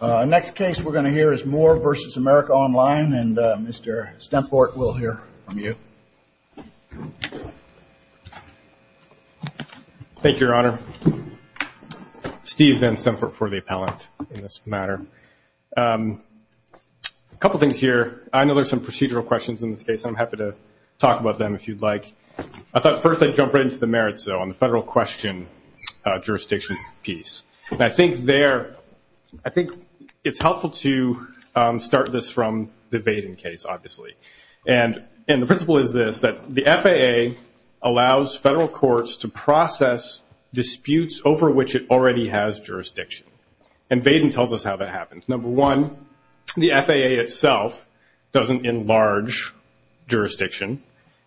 The next case we're going to hear is Moore v. America Online, and Mr. Stemfort will hear from you. Thank you, Your Honor. Steve, then Stemfort for the appellant in this matter. A couple things here. I know there's some procedural questions in this case, and I'm happy to talk about them if you'd like. I thought first I'd jump right into the merits, though, on the federal question jurisdiction piece. And I think it's helpful to start this from the Baden case, obviously. And the principle is this, that the FAA allows federal courts to process disputes over which it already has jurisdiction. And Baden tells us how that happens. Number one, the FAA itself doesn't enlarge jurisdiction.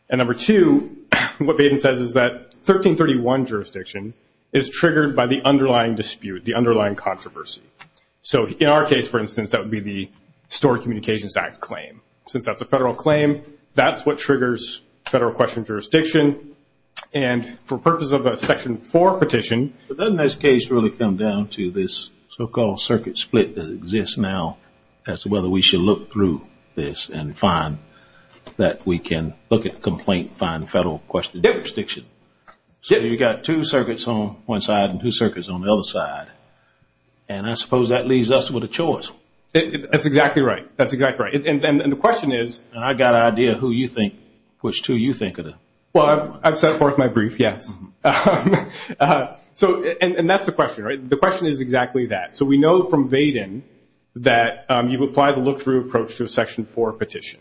And number two, what Baden says is that 1331 jurisdiction is triggered by the underlying dispute, the underlying controversy. So in our case, for instance, that would be the Stored Communications Act claim. Since that's a federal claim, that's what triggers federal question jurisdiction. And for purposes of a Section 4 petition, Doesn't this case really come down to this so-called circuit split that exists now as to whether we should look through this and find that we can look at complaint and find federal question jurisdiction? So you've got two circuits on one side and two circuits on the other side. And I suppose that leaves us with a choice. That's exactly right. That's exactly right. And the question is, I've got an idea of who you think, which two you think of. Well, I've set forth my brief, yes. And that's the question, right? The question is exactly that. So we know from Baden that you apply the look-through approach to a Section 4 petition.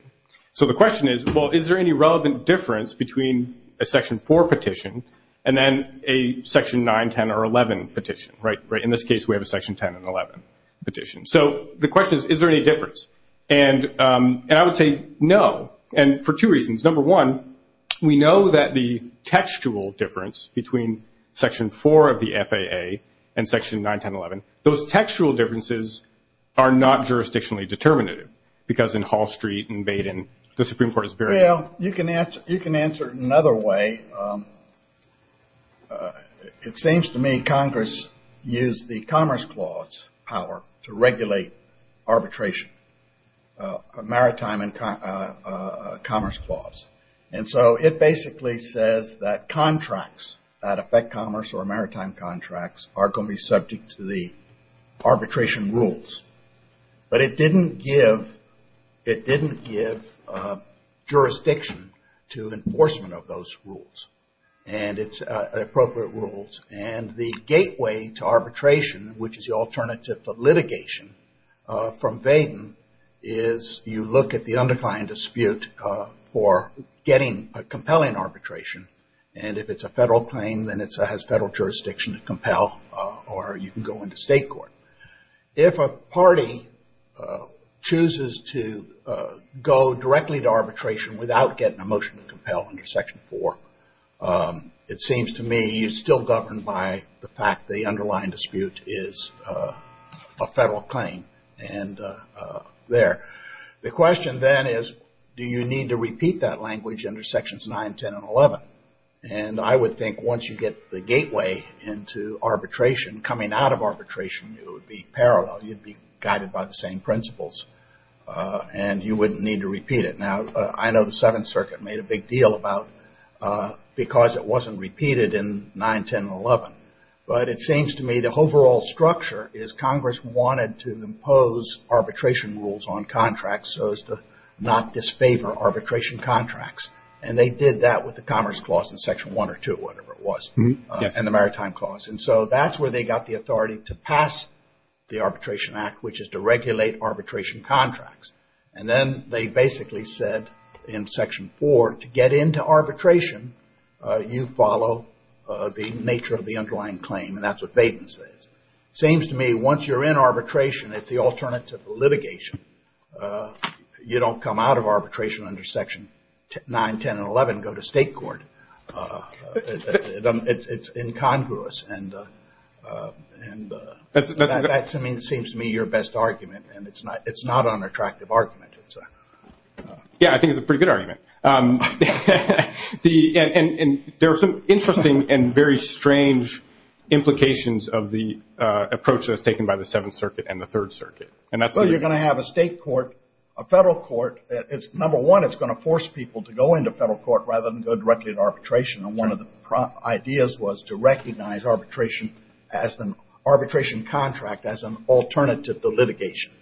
So the question is, well, is there any relevant difference between a Section 4 petition and then a Section 9, 10, or 11 petition? In this case, we have a Section 10 and 11 petition. So the question is, is there any difference? And I would say no, and for two reasons. Number one, we know that the textual difference between Section 4 of the FAA and Section 9, 10, 11, those textual differences are not jurisdictionally determinative because in Hall Street and Baden, the Supreme Court is very- Well, you can answer it another way. It seems to me Congress used the Commerce Clause power to regulate arbitration, Maritime and Commerce Clause. And so it basically says that contracts that affect commerce or maritime contracts are going to be subject to the arbitration rules. But it didn't give jurisdiction to enforcement of those rules and its appropriate rules. And the gateway to arbitration, which is the alternative to litigation from Baden, is you look at the underlying dispute for getting a compelling arbitration. And if it's a federal claim, then it has federal jurisdiction to compel or you can go into state court. If a party chooses to go directly to arbitration without getting a motion to compel under Section 4, it seems to me you're still governed by the fact the underlying dispute is a federal claim. And there. The question then is, do you need to repeat that language under Sections 9, 10, and 11? And I would think once you get the gateway into arbitration, coming out of arbitration, it would be parallel. You'd be guided by the same principles. And you wouldn't need to repeat it. Now, I know the Seventh Circuit made a big deal about it because it wasn't repeated in 9, 10, and 11. But it seems to me the overall structure is Congress wanted to impose arbitration rules on contracts so as to not disfavor arbitration contracts. And they did that with the Commerce Clause in Section 1 or 2, whatever it was, and the Maritime Clause. And so that's where they got the authority to pass the Arbitration Act, which is to regulate arbitration contracts. And then they basically said in Section 4, to get into arbitration, you follow the nature of the underlying claim. And that's what Baden says. It seems to me once you're in arbitration, it's the alternative to litigation. You don't come out of arbitration under Section 9, 10, and 11, go to state court. It's incongruous. And that seems to me your best argument. And it's not an attractive argument. Yeah, I think it's a pretty good argument. And there are some interesting and very strange implications of the approach that's taken by the Seventh Circuit and the Third Circuit. So you're going to have a state court, a federal court. Number one, it's going to force people to go into federal court rather than go directly to arbitration. And one of the ideas was to recognize arbitration contract as an alternative to litigation.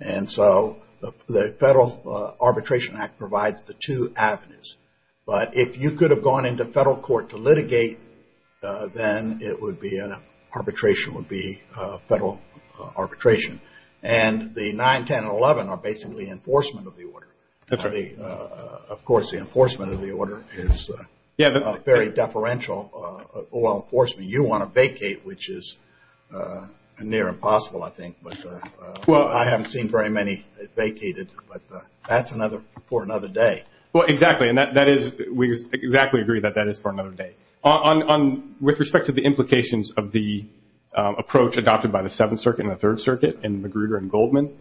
And so the Federal Arbitration Act provides the two avenues. But if you could have gone into federal court to litigate, then arbitration would be federal arbitration. And the 9, 10, and 11 are basically enforcement of the order. Of course, the enforcement of the order is very deferential law enforcement. You want to vacate, which is near impossible, I think. But I haven't seen very many vacated. But that's for another day. Well, exactly. And we exactly agree that that is for another day. With respect to the implications of the approach adopted by the Seventh Circuit and the Third Circuit and Magruder and Goldman,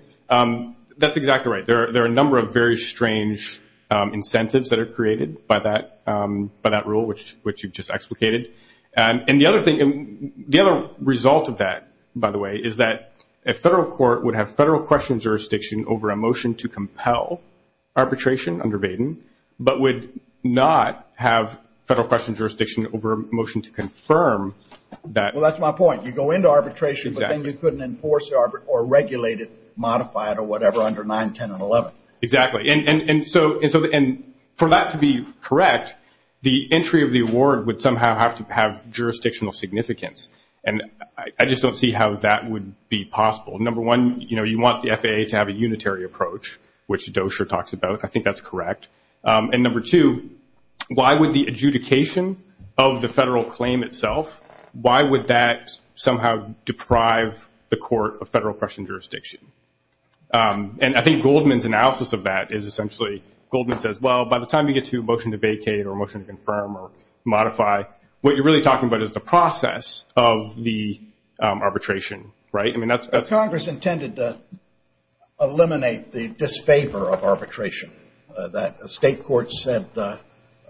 that's exactly right. There are a number of very strange incentives that are created by that rule, which you've just explicated. And the other result of that, by the way, is that a federal court would have federal question jurisdiction over a motion to compel arbitration under Baden, but would not have federal question jurisdiction over a motion to confirm that. Well, that's my point. You go into arbitration, but then you couldn't enforce or regulate it, modify it, or whatever, under 9, 10, and 11. Exactly. And for that to be correct, the entry of the award would somehow have to have jurisdictional significance. And I just don't see how that would be possible. Number one, you want the FAA to have a unitary approach, which Dozier talks about. I think that's correct. And number two, why would the adjudication of the federal claim itself, why would that somehow deprive the court of federal question jurisdiction? And I think Goldman's analysis of that is essentially, Goldman says, well, by the time you get to a motion to vacate or a motion to confirm or modify, what you're really talking about is the process of the arbitration, right? Congress intended to eliminate the disfavor of arbitration. The state courts said the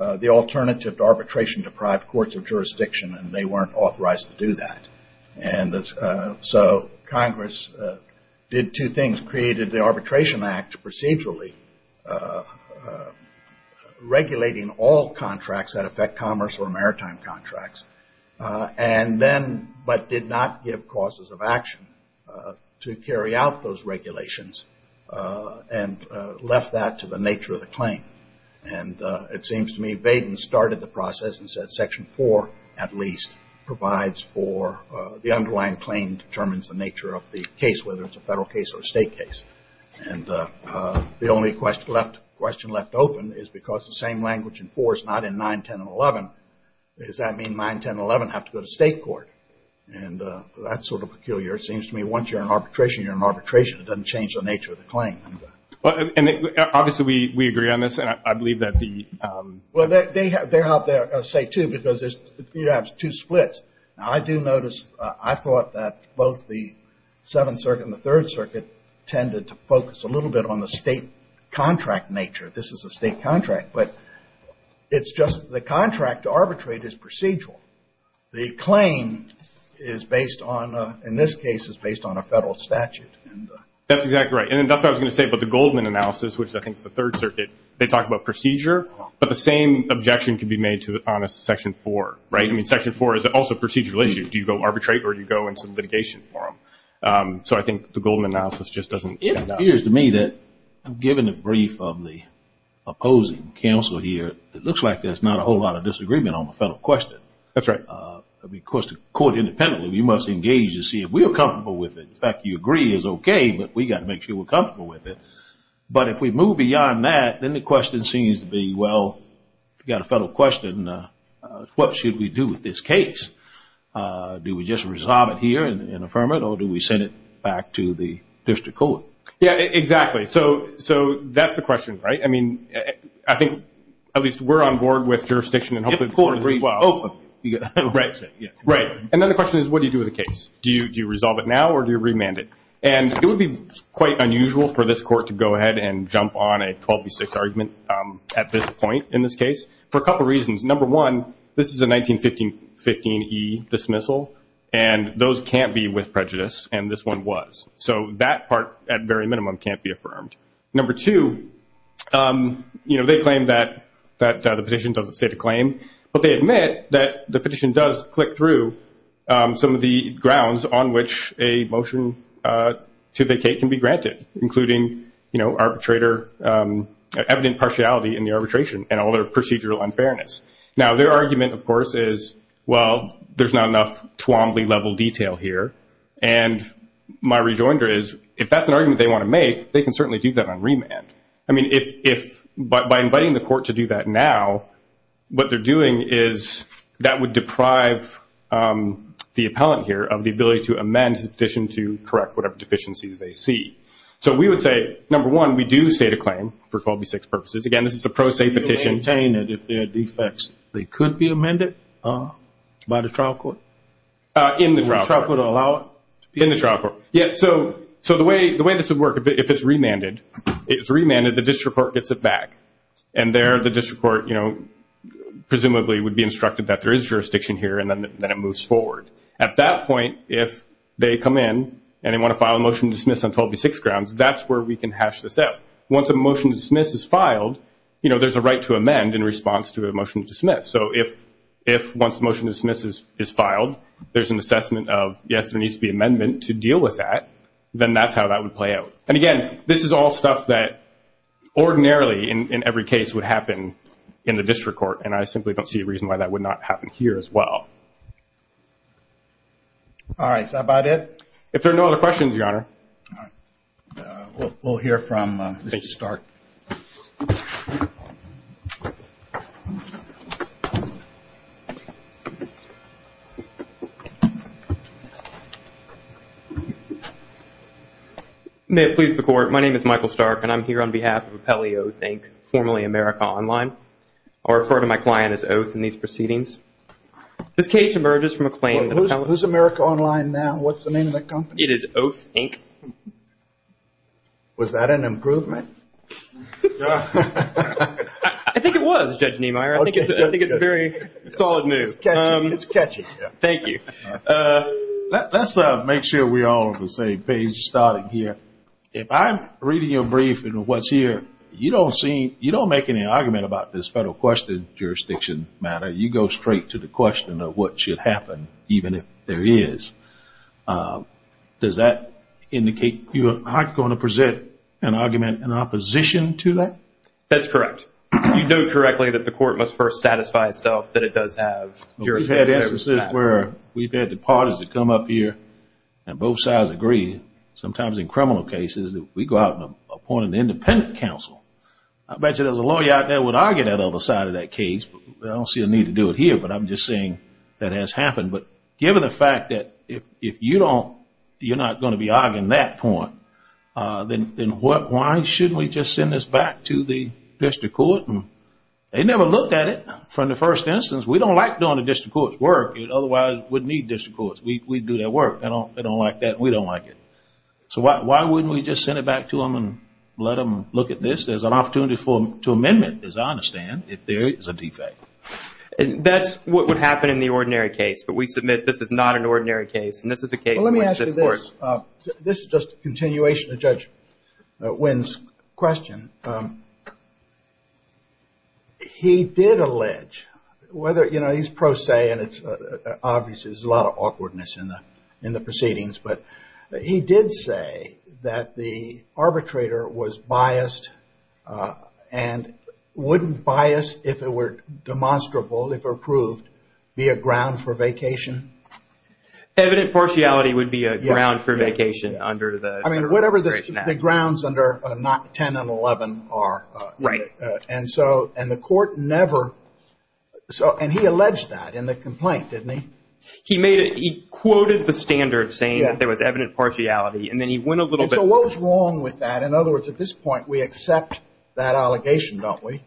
alternative to arbitration deprived courts of jurisdiction, and they weren't authorized to do that. And so Congress did two things, created the Arbitration Act procedurally, regulating all contracts that affect commerce or maritime contracts, and then, but did not give causes of action to carry out those regulations, and left that to the nature of the claim. And it seems to me Baden started the process and said Section 4 at least provides for the underlying claim determines the nature of the case, whether it's a federal case or a state case. And the only question left open is because the same language in 4 is not in 9, 10, and 11. Does that mean 9, 10, and 11 have to go to state court? And that's sort of peculiar. It seems to me once you're in arbitration, you're in arbitration. It doesn't change the nature of the claim. And obviously we agree on this, and I believe that the- Well, they're out there, I'll say, too, because you have two splits. Now, I do notice, I thought that both the Seventh Circuit and the Third Circuit tended to focus a little bit on the state contract nature. This is a state contract, but it's just the contract to arbitrate is procedural. The claim is based on, in this case, is based on a federal statute. That's exactly right. And that's what I was going to say about the Goldman analysis, which I think is the Third Circuit. They talk about procedure, but the same objection can be made to it on a Section 4, right? I mean, Section 4 is also a procedural issue. Do you go arbitrate or do you go into litigation for them? So I think the Goldman analysis just doesn't stand out. It appears to me that, given the brief of the opposing counsel here, it looks like there's not a whole lot of disagreement on the federal question. That's right. Of course, the court independently, we must engage to see if we are comfortable with it. The fact that you agree is okay, but we've got to make sure we're comfortable with it. But if we move beyond that, then the question seems to be, well, if you've got a federal question, what should we do with this case? Do we just resolve it here and affirm it, or do we send it back to the district court? Yeah, exactly. So that's the question, right? I mean, I think at least we're on board with jurisdiction and hopefully the court agrees as well. And then the question is, what do you do with the case? Do you resolve it now or do you remand it? And it would be quite unusual for this court to go ahead and jump on a 12 v. 6 argument at this point in this case for a couple reasons. Number one, this is a 1915 E dismissal, and those can't be with prejudice, and this one was. So that part, at very minimum, can't be affirmed. Number two, you know, they claim that the petition doesn't state a claim, but they admit that the petition does click through some of the grounds on which a motion to vacate can be granted, including, you know, evident partiality in the arbitration and all their procedural unfairness. Now, their argument, of course, is, well, there's not enough Twombly-level detail here, and my rejoinder is if that's an argument they want to make, they can certainly do that on remand. I mean, by inviting the court to do that now, what they're doing is that would deprive the appellant here of the ability to amend in addition to correct whatever deficiencies they see. So we would say, number one, we do state a claim for 12 v. 6 purposes. Again, this is a pro se petition. You don't maintain it if there are defects. They could be amended by the trial court? In the trial court. The trial court will allow it? In the trial court. Yeah, so the way this would work, if it's remanded, the district court gets it back, and there the district court, you know, presumably would be instructed that there is jurisdiction here and then it moves forward. At that point, if they come in and they want to file a motion to dismiss on 12 v. 6 grounds, that's where we can hash this out. Once a motion to dismiss is filed, you know, there's a right to amend in response to a motion to dismiss. So if once a motion to dismiss is filed, there's an assessment of, yes, there needs to be an amendment to deal with that, then that's how that would play out. And, again, this is all stuff that ordinarily in every case would happen in the district court, and I simply don't see a reason why that would not happen here as well. All right. Is that about it? If there are no other questions, Your Honor. All right. We'll hear from Mr. Stark. May it please the Court, my name is Michael Stark, and I'm here on behalf of Appellee Oath, Inc., formerly America Online. I'll refer to my client as Oath in these proceedings. This case emerges from a claim that Appellee – Who's America Online now? What's the name of the company? It is Oath, Inc. Was that an improvement? I think it was, Judge Niemeyer. I think it's very solid news. It's catchy. Thank you. Let's make sure we're all on the same page starting here. If I'm reading your brief and what's here, you don't make any argument about this federal question jurisdiction matter. You go straight to the question of what should happen, even if there is. Does that indicate you're not going to present an argument in opposition to that? That's correct. You do correctly that the Court must first satisfy itself that it does have jurisdiction. We've had instances where we've had the parties that come up here, and both sides agree, sometimes in criminal cases, that we go out and appoint an independent counsel. I bet you there's a lawyer out there that would argue that other side of that case, but I don't see a need to do it here, but I'm just saying that has happened. But given the fact that if you're not going to be arguing that point, then why shouldn't we just send this back to the district court? They never looked at it from the first instance. We don't like doing the district court's work. Otherwise, we'd need district courts. We do their work. They don't like that, and we don't like it. So why wouldn't we just send it back to them and let them look at this? There's an opportunity to amend it, as I understand, if there is a defect. That's what would happen in the ordinary case, but we submit this is not an ordinary case, and this is a case in which this works. Well, let me ask you this. This is just a continuation of Judge Wynn's question. He did allege, whether, you know, he's pro se, and obviously there's a lot of awkwardness in the proceedings, but he did say that the arbitrator was biased and wouldn't bias, if it were demonstrable, if it were proved, be a ground for vacation? Evident partiality would be a ground for vacation under the arbitration act. I mean, whatever the grounds under 10 and 11 are. Right. And the court never – and he alleged that in the complaint, didn't he? He made it – he quoted the standards saying that there was evident partiality, and then he went a little bit – And so what was wrong with that? In other words, at this point, we accept that allegation, don't we?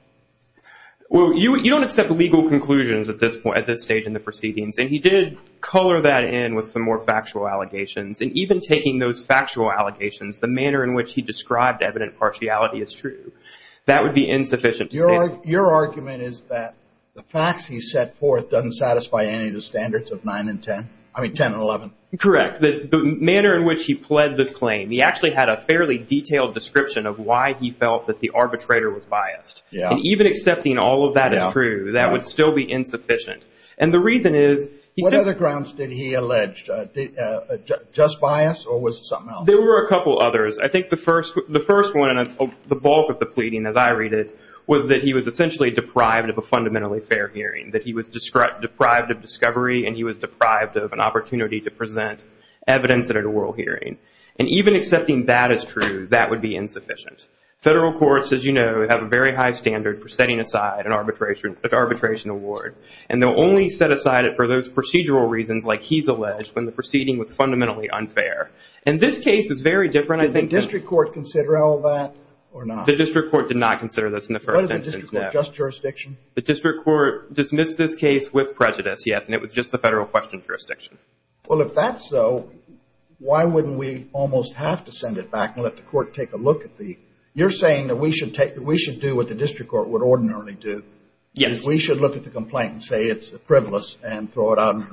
Well, you don't accept legal conclusions at this point, at this stage in the proceedings, and he did color that in with some more factual allegations, and even taking those factual allegations, the manner in which he described evident partiality as true, that would be insufficient. Your argument is that the facts he set forth doesn't satisfy any of the standards of 9 and 10? I mean, 10 and 11. Correct. The manner in which he pled this claim, he actually had a fairly detailed description of why he felt that the arbitrator was biased. And even accepting all of that as true, that would still be insufficient. And the reason is – What other grounds did he allege? Just bias, or was it something else? There were a couple others. I think the first one, and the bulk of the pleading, as I read it, was that he was essentially deprived of a fundamentally fair hearing, that he was deprived of discovery and he was deprived of an opportunity to present evidence at an oral hearing. And even accepting that as true, that would be insufficient. Federal courts, as you know, have a very high standard for setting aside an arbitration award, and they'll only set aside it for those procedural reasons, like he's alleged, when the proceeding was fundamentally unfair. And this case is very different. Did the district court consider all that or not? The district court did not consider this in the first instance, no. Was the district court just jurisdiction? The district court dismissed this case with prejudice, yes, and it was just the federal question jurisdiction. Well, if that's so, why wouldn't we almost have to send it back and let the court take a look at the – you're saying that we should do what the district court would ordinarily do. Yes. We should look at the complaint and say it's frivolous and throw it out.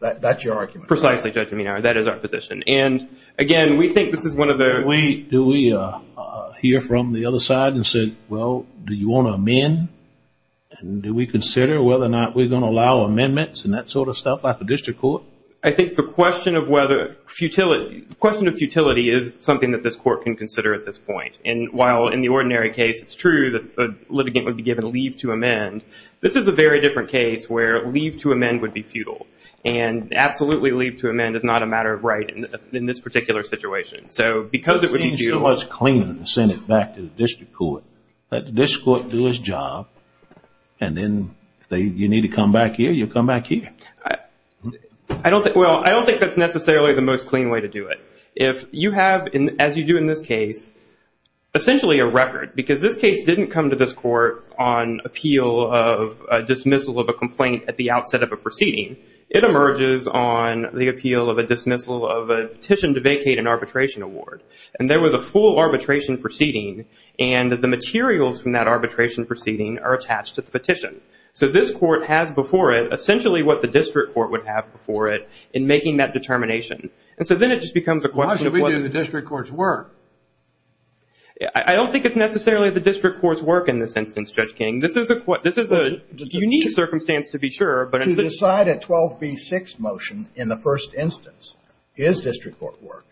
That's your argument, right? Precisely, Judge Menard. That is our position. And, again, we think this is one of the – Do we hear from the other side and say, well, do you want to amend? Do we consider whether or not we're going to allow amendments and that sort of stuff by the district court? I think the question of whether – the question of futility is something that this court can consider at this point. And while in the ordinary case it's true that a litigant would be given leave to amend, this is a very different case where leave to amend would be futile. And absolutely leave to amend is not a matter of right in this particular situation. So because it would be due – It would be so much cleaner to send it back to the district court, let the district court do its job, and then you need to come back here, you come back here. Well, I don't think that's necessarily the most clean way to do it. If you have, as you do in this case, essentially a record, because this case didn't come to this court on appeal of dismissal of a complaint at the outset of a proceeding, it emerges on the appeal of a dismissal of a petition to vacate an arbitration award. And there was a full arbitration proceeding, and the materials from that arbitration proceeding are attached to the petition. So this court has before it essentially what the district court would have before it in making that determination. And so then it just becomes a question of whether – Why should we do the district court's work? I don't think it's necessarily the district court's work in this instance, Judge King. This is a unique circumstance, to be sure. To decide a 12B6 motion in the first instance is district court work.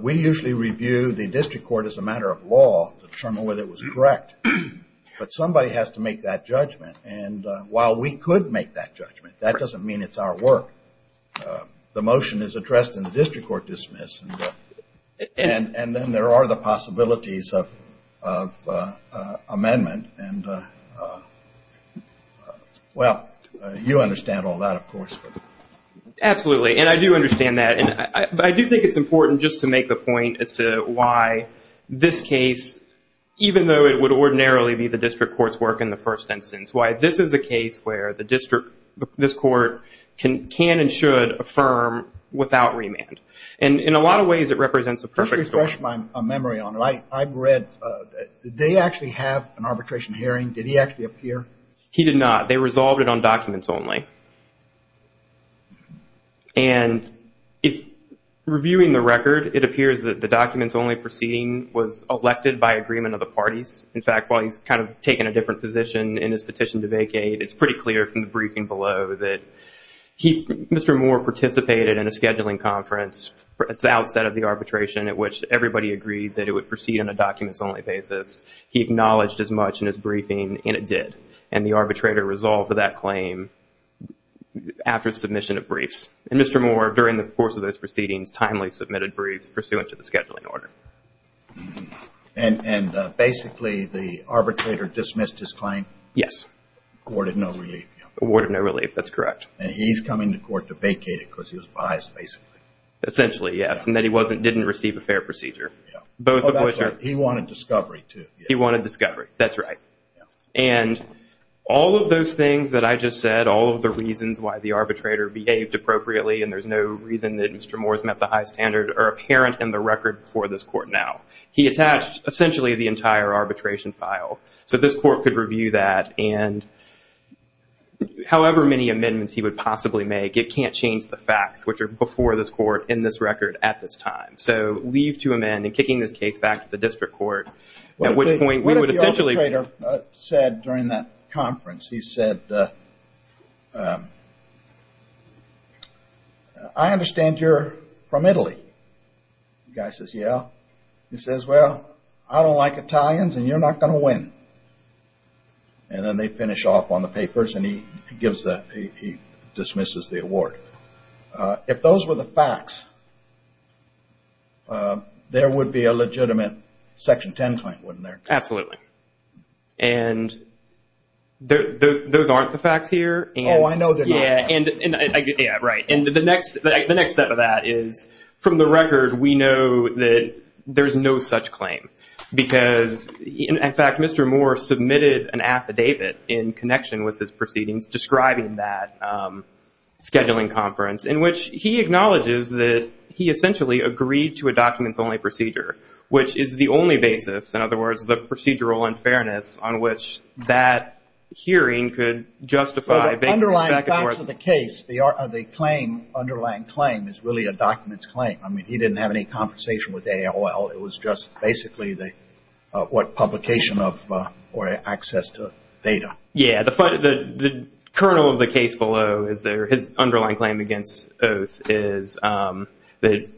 We usually review the district court as a matter of law to determine whether it was correct. But somebody has to make that judgment, and while we could make that judgment, that doesn't mean it's our work. The motion is addressed in the district court dismiss, and then there are the possibilities of amendment. Well, you understand all that, of course. Absolutely, and I do understand that. But I do think it's important just to make the point as to why this case, even though it would ordinarily be the district court's work in the first instance, why this is a case where this court can and should affirm without remand. And in a lot of ways, it represents a perfect story. Just to refresh my memory on it, I've read – did they actually have an arbitration hearing? Did he actually appear? He did not. They resolved it on documents only. And reviewing the record, it appears that the documents only proceeding was elected by agreement of the parties. In fact, while he's kind of taken a different position in his petition to vacate, it's pretty clear from the briefing below that Mr. Moore participated in a scheduling conference at the outset of the arbitration at which everybody agreed that it would proceed on a documents only basis. He acknowledged as much in his briefing, and it did. And the arbitrator resolved that claim after submission of briefs. And Mr. Moore, during the course of those proceedings, timely submitted briefs pursuant to the scheduling order. And basically, the arbitrator dismissed his claim? Yes. Awarded no relief. Awarded no relief. That's correct. And he's coming to court to vacate it because he was biased, basically. Essentially, yes. And that he didn't receive a fair procedure. Oh, that's right. He wanted discovery, too. He wanted discovery. That's right. And all of those things that I just said, all of the reasons why the arbitrator behaved appropriately and there's no reason that Mr. Moore's met the high standard, are apparent in the record for this court now. He attached essentially the entire arbitration file. So this court could review that, and however many amendments he would possibly make, it can't change the facts, which are before this court, in this record, at this time. So leave to amend, and kicking this case back to the district court, at which point we would essentially. What did the arbitrator said during that conference? He said, I understand you're from Italy. The guy says, yeah. He says, well, I don't like Italians, and you're not going to win. And then they finish off on the papers, and he dismisses the award. If those were the facts, there would be a legitimate Section 10 claim, wouldn't there? Absolutely. And those aren't the facts here. Oh, I know they're not. Yeah, right. The next step of that is, from the record, we know that there's no such claim, because, in fact, Mr. Moore submitted an affidavit in connection with his proceedings describing that scheduling conference, in which he acknowledges that he essentially agreed to a documents-only procedure, which is the only basis, in other words, the procedural unfairness on which that hearing could justify. Well, the underlying facts of the case, the underlying claim, is really a documents claim. I mean, he didn't have any conversation with AOL. It was just basically what publication of or access to data. Yeah, the kernel of the case below, his underlying claim against Oath, is that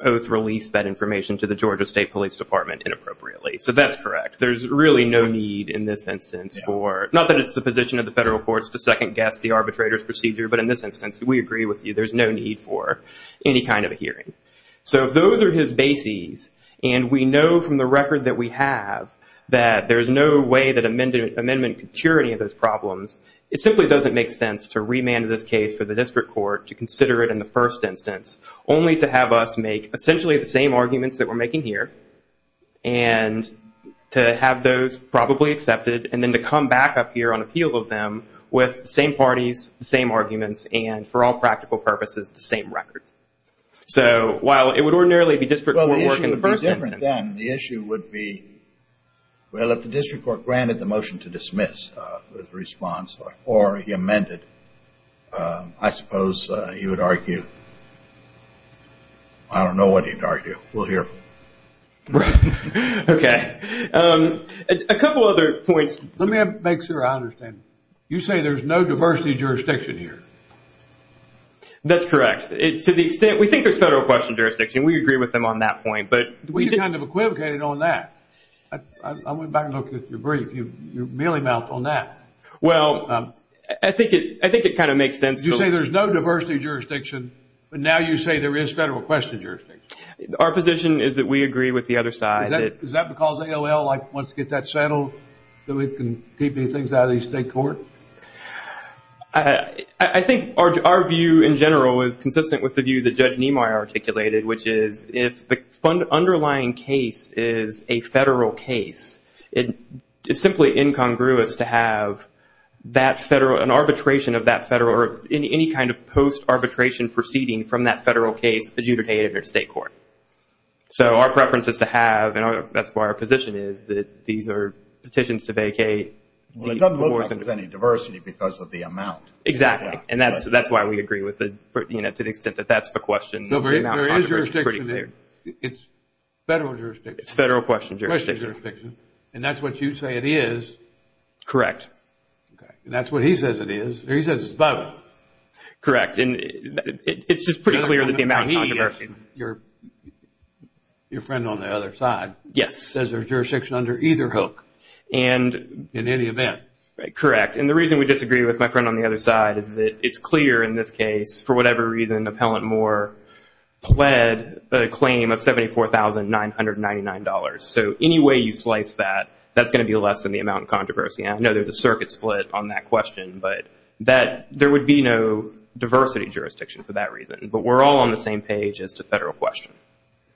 Oath released that information to the Georgia State Police Department inappropriately. So that's correct. There's really no need in this instance for, not that it's the position of the federal courts to second-guess the arbitrator's procedure, but in this instance, we agree with you, there's no need for any kind of a hearing. So if those are his bases, and we know from the record that we have, that there's no way that amendment could cure any of those problems, it simply doesn't make sense to remand this case for the district court to consider it in the first instance, only to have us make essentially the same arguments that we're making here, and to have those probably accepted, and then to come back up here on appeal of them with the same parties, the same arguments, and for all practical purposes, the same record. So while it would ordinarily be district court work in the first instance. Well, the issue would be different then. The issue would be, well, if the district court granted the motion to dismiss the response, or he amended, I suppose he would argue, I don't know what he'd argue. We'll hear. Right. Okay. A couple other points. Let me make sure I understand. You say there's no diversity jurisdiction here. That's correct. To the extent, we think there's federal question jurisdiction. We agree with them on that point. We kind of equivocated on that. I went back and looked at your brief. You mealy-mouthed on that. Well, I think it kind of makes sense. You say there's no diversity jurisdiction, but now you say there is federal question jurisdiction. Our position is that we agree with the other side. Is that because AOL wants to get that settled so it can keep these things out of the state court? I think our view in general is consistent with the view that Judge Nimoy articulated, which is if the underlying case is a federal case, it's simply incongruous to have an arbitration of that federal or any kind of post-arbitration proceeding from that federal case to be adjudicated in a state court. So our preference is to have, and that's why our position is, that these are petitions to vacate. Well, it doesn't look like there's any diversity because of the amount. Exactly, and that's why we agree to the extent that that's the question. There is jurisdiction there. It's federal jurisdiction. It's federal question jurisdiction. And that's what you say it is. Correct. And that's what he says it is. He says it's both. Correct. It's just pretty clear that the amount of controversy. Your friend on the other side says there's jurisdiction under either hook in any event. Correct. And the reason we disagree with my friend on the other side is that it's clear in this case, for whatever reason, Appellant Moore pled a claim of $74,999. So any way you slice that, that's going to be less than the amount of controversy. And I know there's a circuit split on that question, but there would be no diversity jurisdiction for that reason. But we're all on the same page as to federal question.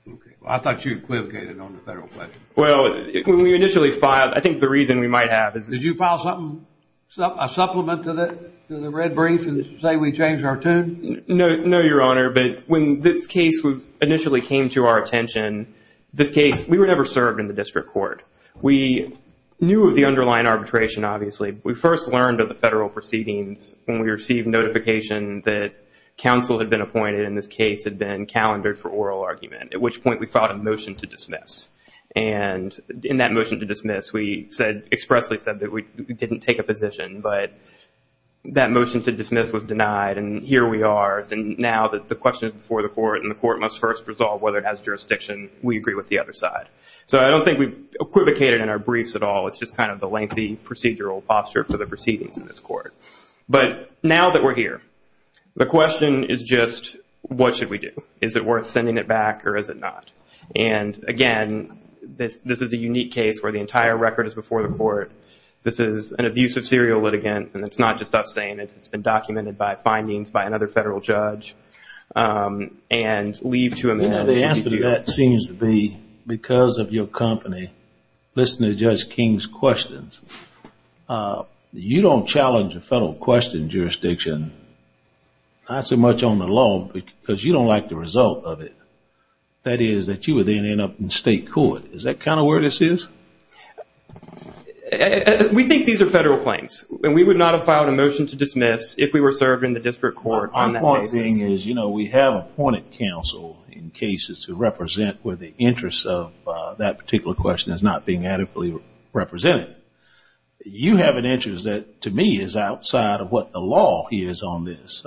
Okay. Well, I thought you equivocated on the federal question. Well, when we initially filed, I think the reason we might have is that Did you file something, a supplement to the red brief and say we changed our tune? No, Your Honor, but when this case initially came to our attention, this case, we were never served in the district court. We knew of the underlying arbitration, obviously. We first learned of the federal proceedings when we received notification that counsel had been appointed and this case had been calendared for oral argument, at which point we filed a motion to dismiss. And in that motion to dismiss, we expressly said that we didn't take a position. But that motion to dismiss was denied, and here we are. And now the question is before the court, and the court must first resolve whether it has jurisdiction. We agree with the other side. So I don't think we equivocated in our briefs at all. It's just kind of the lengthy procedural posture for the proceedings in this court. But now that we're here, the question is just what should we do? Is it worth sending it back or is it not? And, again, this is a unique case where the entire record is before the court. This is an abusive serial litigant, and it's not just us saying it. It's been documented by findings by another federal judge and leave to amend. Now the answer to that seems to be, because of your company, listen to Judge King's questions. You don't challenge a federal question jurisdiction, not so much on the law, because you don't like the result of it. That is, that you would then end up in state court. Is that kind of where this is? We think these are federal claims, and we would not have filed a motion to dismiss if we were served in the district court on that basis. The other thing is, you know, we have appointed counsel in cases to represent where the interest of that particular question is not being adequately represented. You have an interest that, to me, is outside of what the law is on this.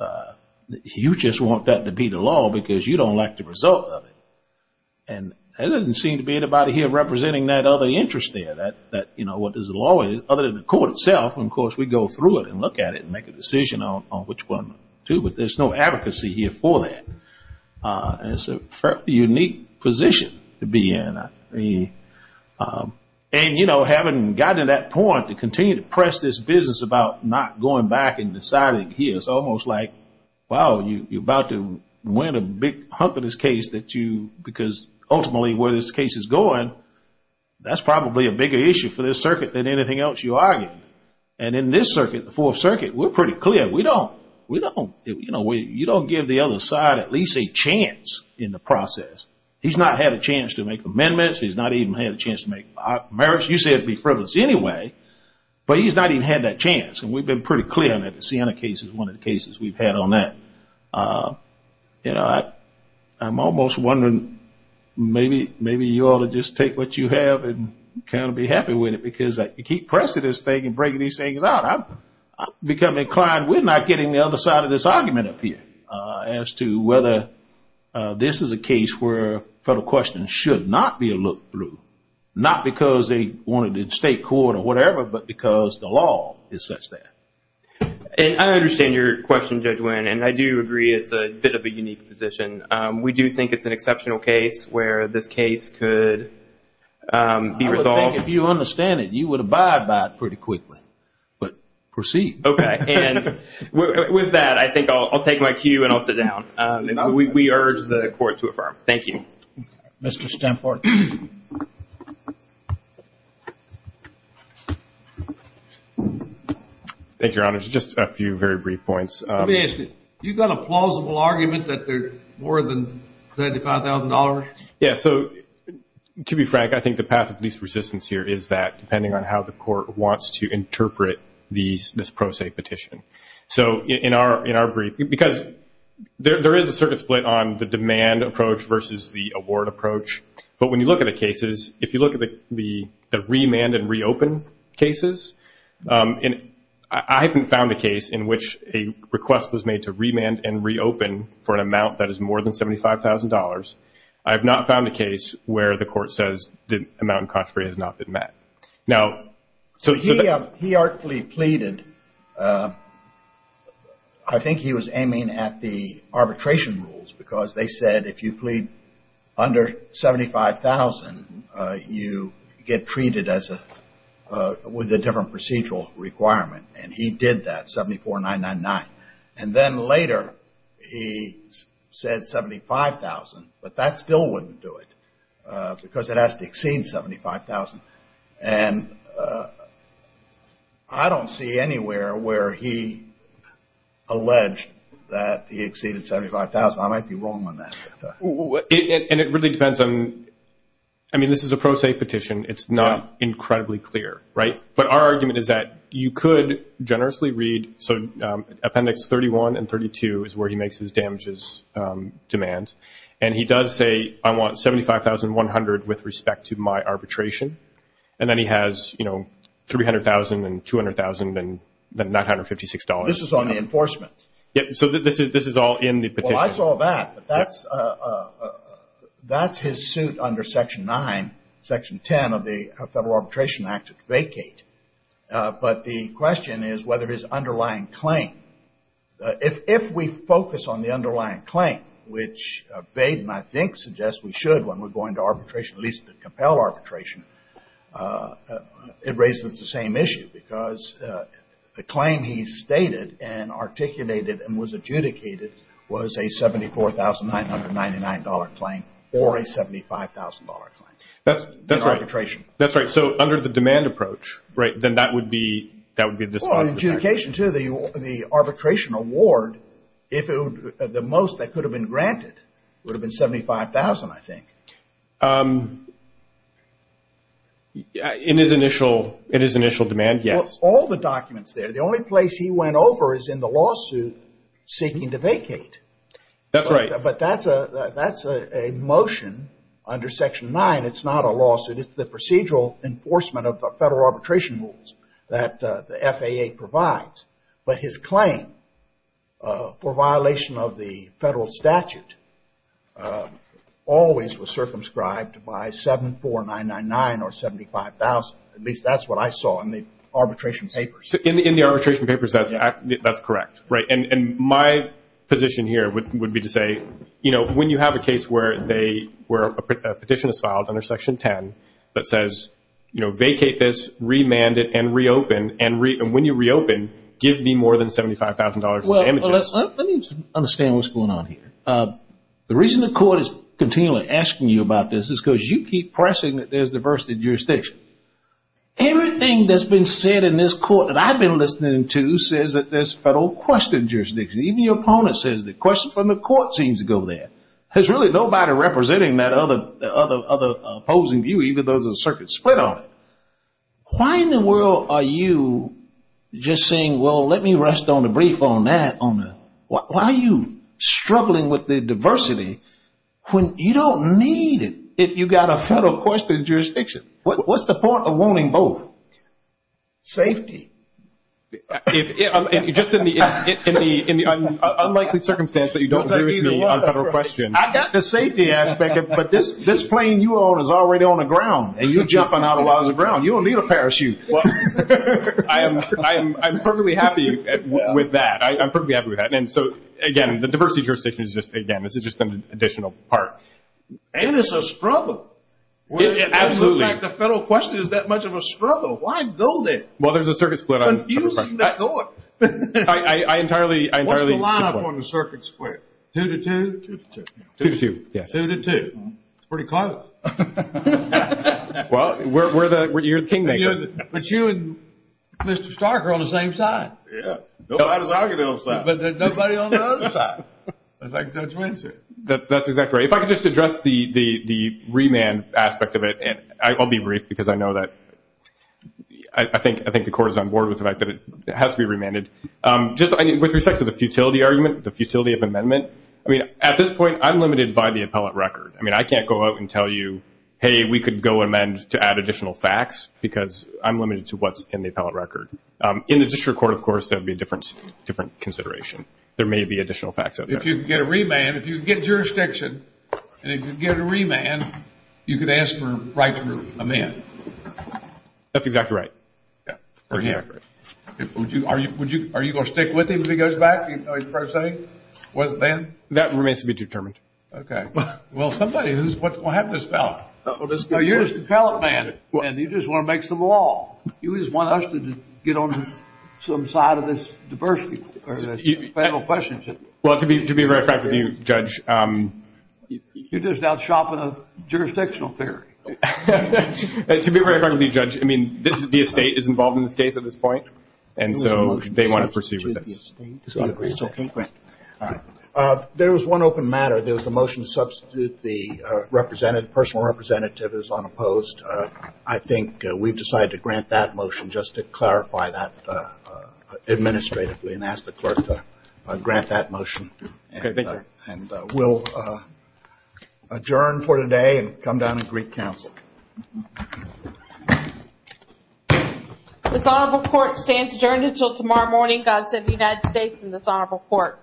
You just want that to be the law because you don't like the result of it. And there doesn't seem to be anybody here representing that other interest there, that, you know, what does the law is, other than the court itself. And, of course, we go through it and look at it and make a decision on which one to, but there's no advocacy here for that. It's a unique position to be in. And, you know, having gotten to that point, to continue to press this business about not going back and deciding here, it's almost like, wow, you're about to win a big hump in this case that you, because ultimately where this case is going, that's probably a bigger issue for this circuit than anything else you argue. And in this circuit, the Fourth Circuit, we're pretty clear. We don't, you know, you don't give the other side at least a chance in the process. He's not had a chance to make amendments. He's not even had a chance to make merits. You said be frivolous anyway, but he's not even had that chance. And we've been pretty clear on that. The Siena case is one of the cases we've had on that. You know, I'm almost wondering maybe you ought to just take what you have and kind of be happy with it because you keep pressing this thing and breaking these things out. I've become inclined, we're not getting the other side of this argument up here, as to whether this is a case where federal questions should not be a look-through, not because they want it in state court or whatever, but because the law is such that. And I understand your question, Judge Winn, and I do agree it's a bit of a unique position. We do think it's an exceptional case where this case could be resolved. I would think if you understand it, you would abide by it pretty quickly. But proceed. Okay. And with that, I think I'll take my cue and I'll sit down. We urge the Court to affirm. Thank you. Mr. Stanford. Thank you, Your Honors. Just a few very brief points. Let me ask you, you've got a plausible argument that they're more than $35,000? Yeah, so to be frank, I think the path of least resistance here is that, and I'm not going to interpret this pro se petition. So in our brief, because there is a certain split on the demand approach versus the award approach, but when you look at the cases, if you look at the remand and reopen cases, and I haven't found a case in which a request was made to remand and reopen for an amount that is more than $75,000. I have not found a case where the Court says the amount in contrary has not been met. He artfully pleaded. I think he was aiming at the arbitration rules because they said if you plead under $75,000, you get treated with a different procedural requirement. And he did that, $74,999. And then later he said $75,000, but that still wouldn't do it because it has to exceed $75,000. And I don't see anywhere where he alleged that he exceeded $75,000. I might be wrong on that. And it really depends on, I mean, this is a pro se petition. It's not incredibly clear, right? But our argument is that you could generously read, so Appendix 31 and 32 is where he makes his damages demand. And he does say, I want $75,100 with respect to my arbitration. And then he has $300,000 and $200,000 and $956. This is on the enforcement. So this is all in the petition. Well, I saw that, but that's his suit under Section 9, Section 10 of the Federal Arbitration Act to vacate. But the question is whether his underlying claim, if we focus on the underlying claim, which Baden, I think, suggests we should when we're going to arbitration, at least to compel arbitration, it raises the same issue. Because the claim he stated and articulated and was adjudicated was a $74,999 claim or a $75,000 claim. That's right. That's right. So under the demand approach, right, then that would be a dispositive action. And in adjudication, too, the arbitration award, the most that could have been granted would have been $75,000, I think. In his initial demand, yes. All the documents there, the only place he went over is in the lawsuit seeking to vacate. That's right. But that's a motion under Section 9. It's not a lawsuit. It's the procedural enforcement of the federal arbitration rules that the FAA provides. But his claim for violation of the federal statute always was circumscribed by $74,999 or $75,000. At least that's what I saw in the arbitration papers. In the arbitration papers, that's correct. Right. And my position here would be to say, you know, when you have a case where a petition is filed under Section 10 that says, you know, vacate this, remand it, and reopen, and when you reopen, give me more than $75,000 in damages. Let me understand what's going on here. The reason the court is continually asking you about this is because you keep pressing that there's diversity in jurisdiction. Everything that's been said in this court that I've been listening to says that there's federal question in jurisdiction. Even your opponent says the question from the court seems to go there. There's really nobody representing that other opposing view, even though there's a circuit split on it. Why in the world are you just saying, well, let me rest on the brief on that? Why are you struggling with the diversity when you don't need it if you've got a federal question in jurisdiction? What's the point of wanting both? Safety. Just in the unlikely circumstance that you don't agree with me on federal questions. I got the safety aspect, but this plane you own is already on the ground, and you're jumping out a lot of the ground. You don't need a parachute. I'm perfectly happy with that. I'm perfectly happy with that. And so, again, the diversity jurisdiction is just, again, this is just an additional part. And it's a struggle. Absolutely. In fact, the federal question is that much of a struggle. Why go there? Well, there's a circuit split. Confusing that court. I entirely agree. What's the line up on the circuit split? Two to two? Two to two. Two to two, yes. Two to two. That's pretty close. Well, you're the kingmaker. But you and Mr. Stark are on the same side. Yeah. Nobody on the other side. But nobody on the other side. That's my judgment, sir. That's exactly right. If I could just address the remand aspect of it. And I'll be brief because I know that I think the court is on board with the fact that it has to be remanded. Just with respect to the futility argument, the futility of amendment, I mean, at this point, I'm limited by the appellate record. I mean, I can't go out and tell you, hey, we could go amend to add additional facts because I'm limited to what's in the appellate record. In the district court, of course, that would be a different consideration. There may be additional facts out there. If you could get a remand, if you could get jurisdiction, and if you could get a remand, you could ask for a right to amend. That's exactly right. Are you going to stick with him if he goes back? That remains to be determined. Okay. Well, somebody who's going to have this ballot. You're just an appellate man, and you just want to make some law. You just want us to get on some side of this diversity. Well, to be very frank with you, Judge. You're just out shopping a jurisdictional theory. To be very frank with you, Judge, I mean, the estate is involved in this case at this point, and so they want to proceed with this. There was one open matter. There was a motion to substitute the representative. The personal representative is unopposed. I think we've decided to grant that motion just to clarify that administratively and ask the clerk to grant that motion. And we'll adjourn for today and come down and greet counsel. This honorable court stands adjourned until tomorrow morning. God save the United States and this honorable court.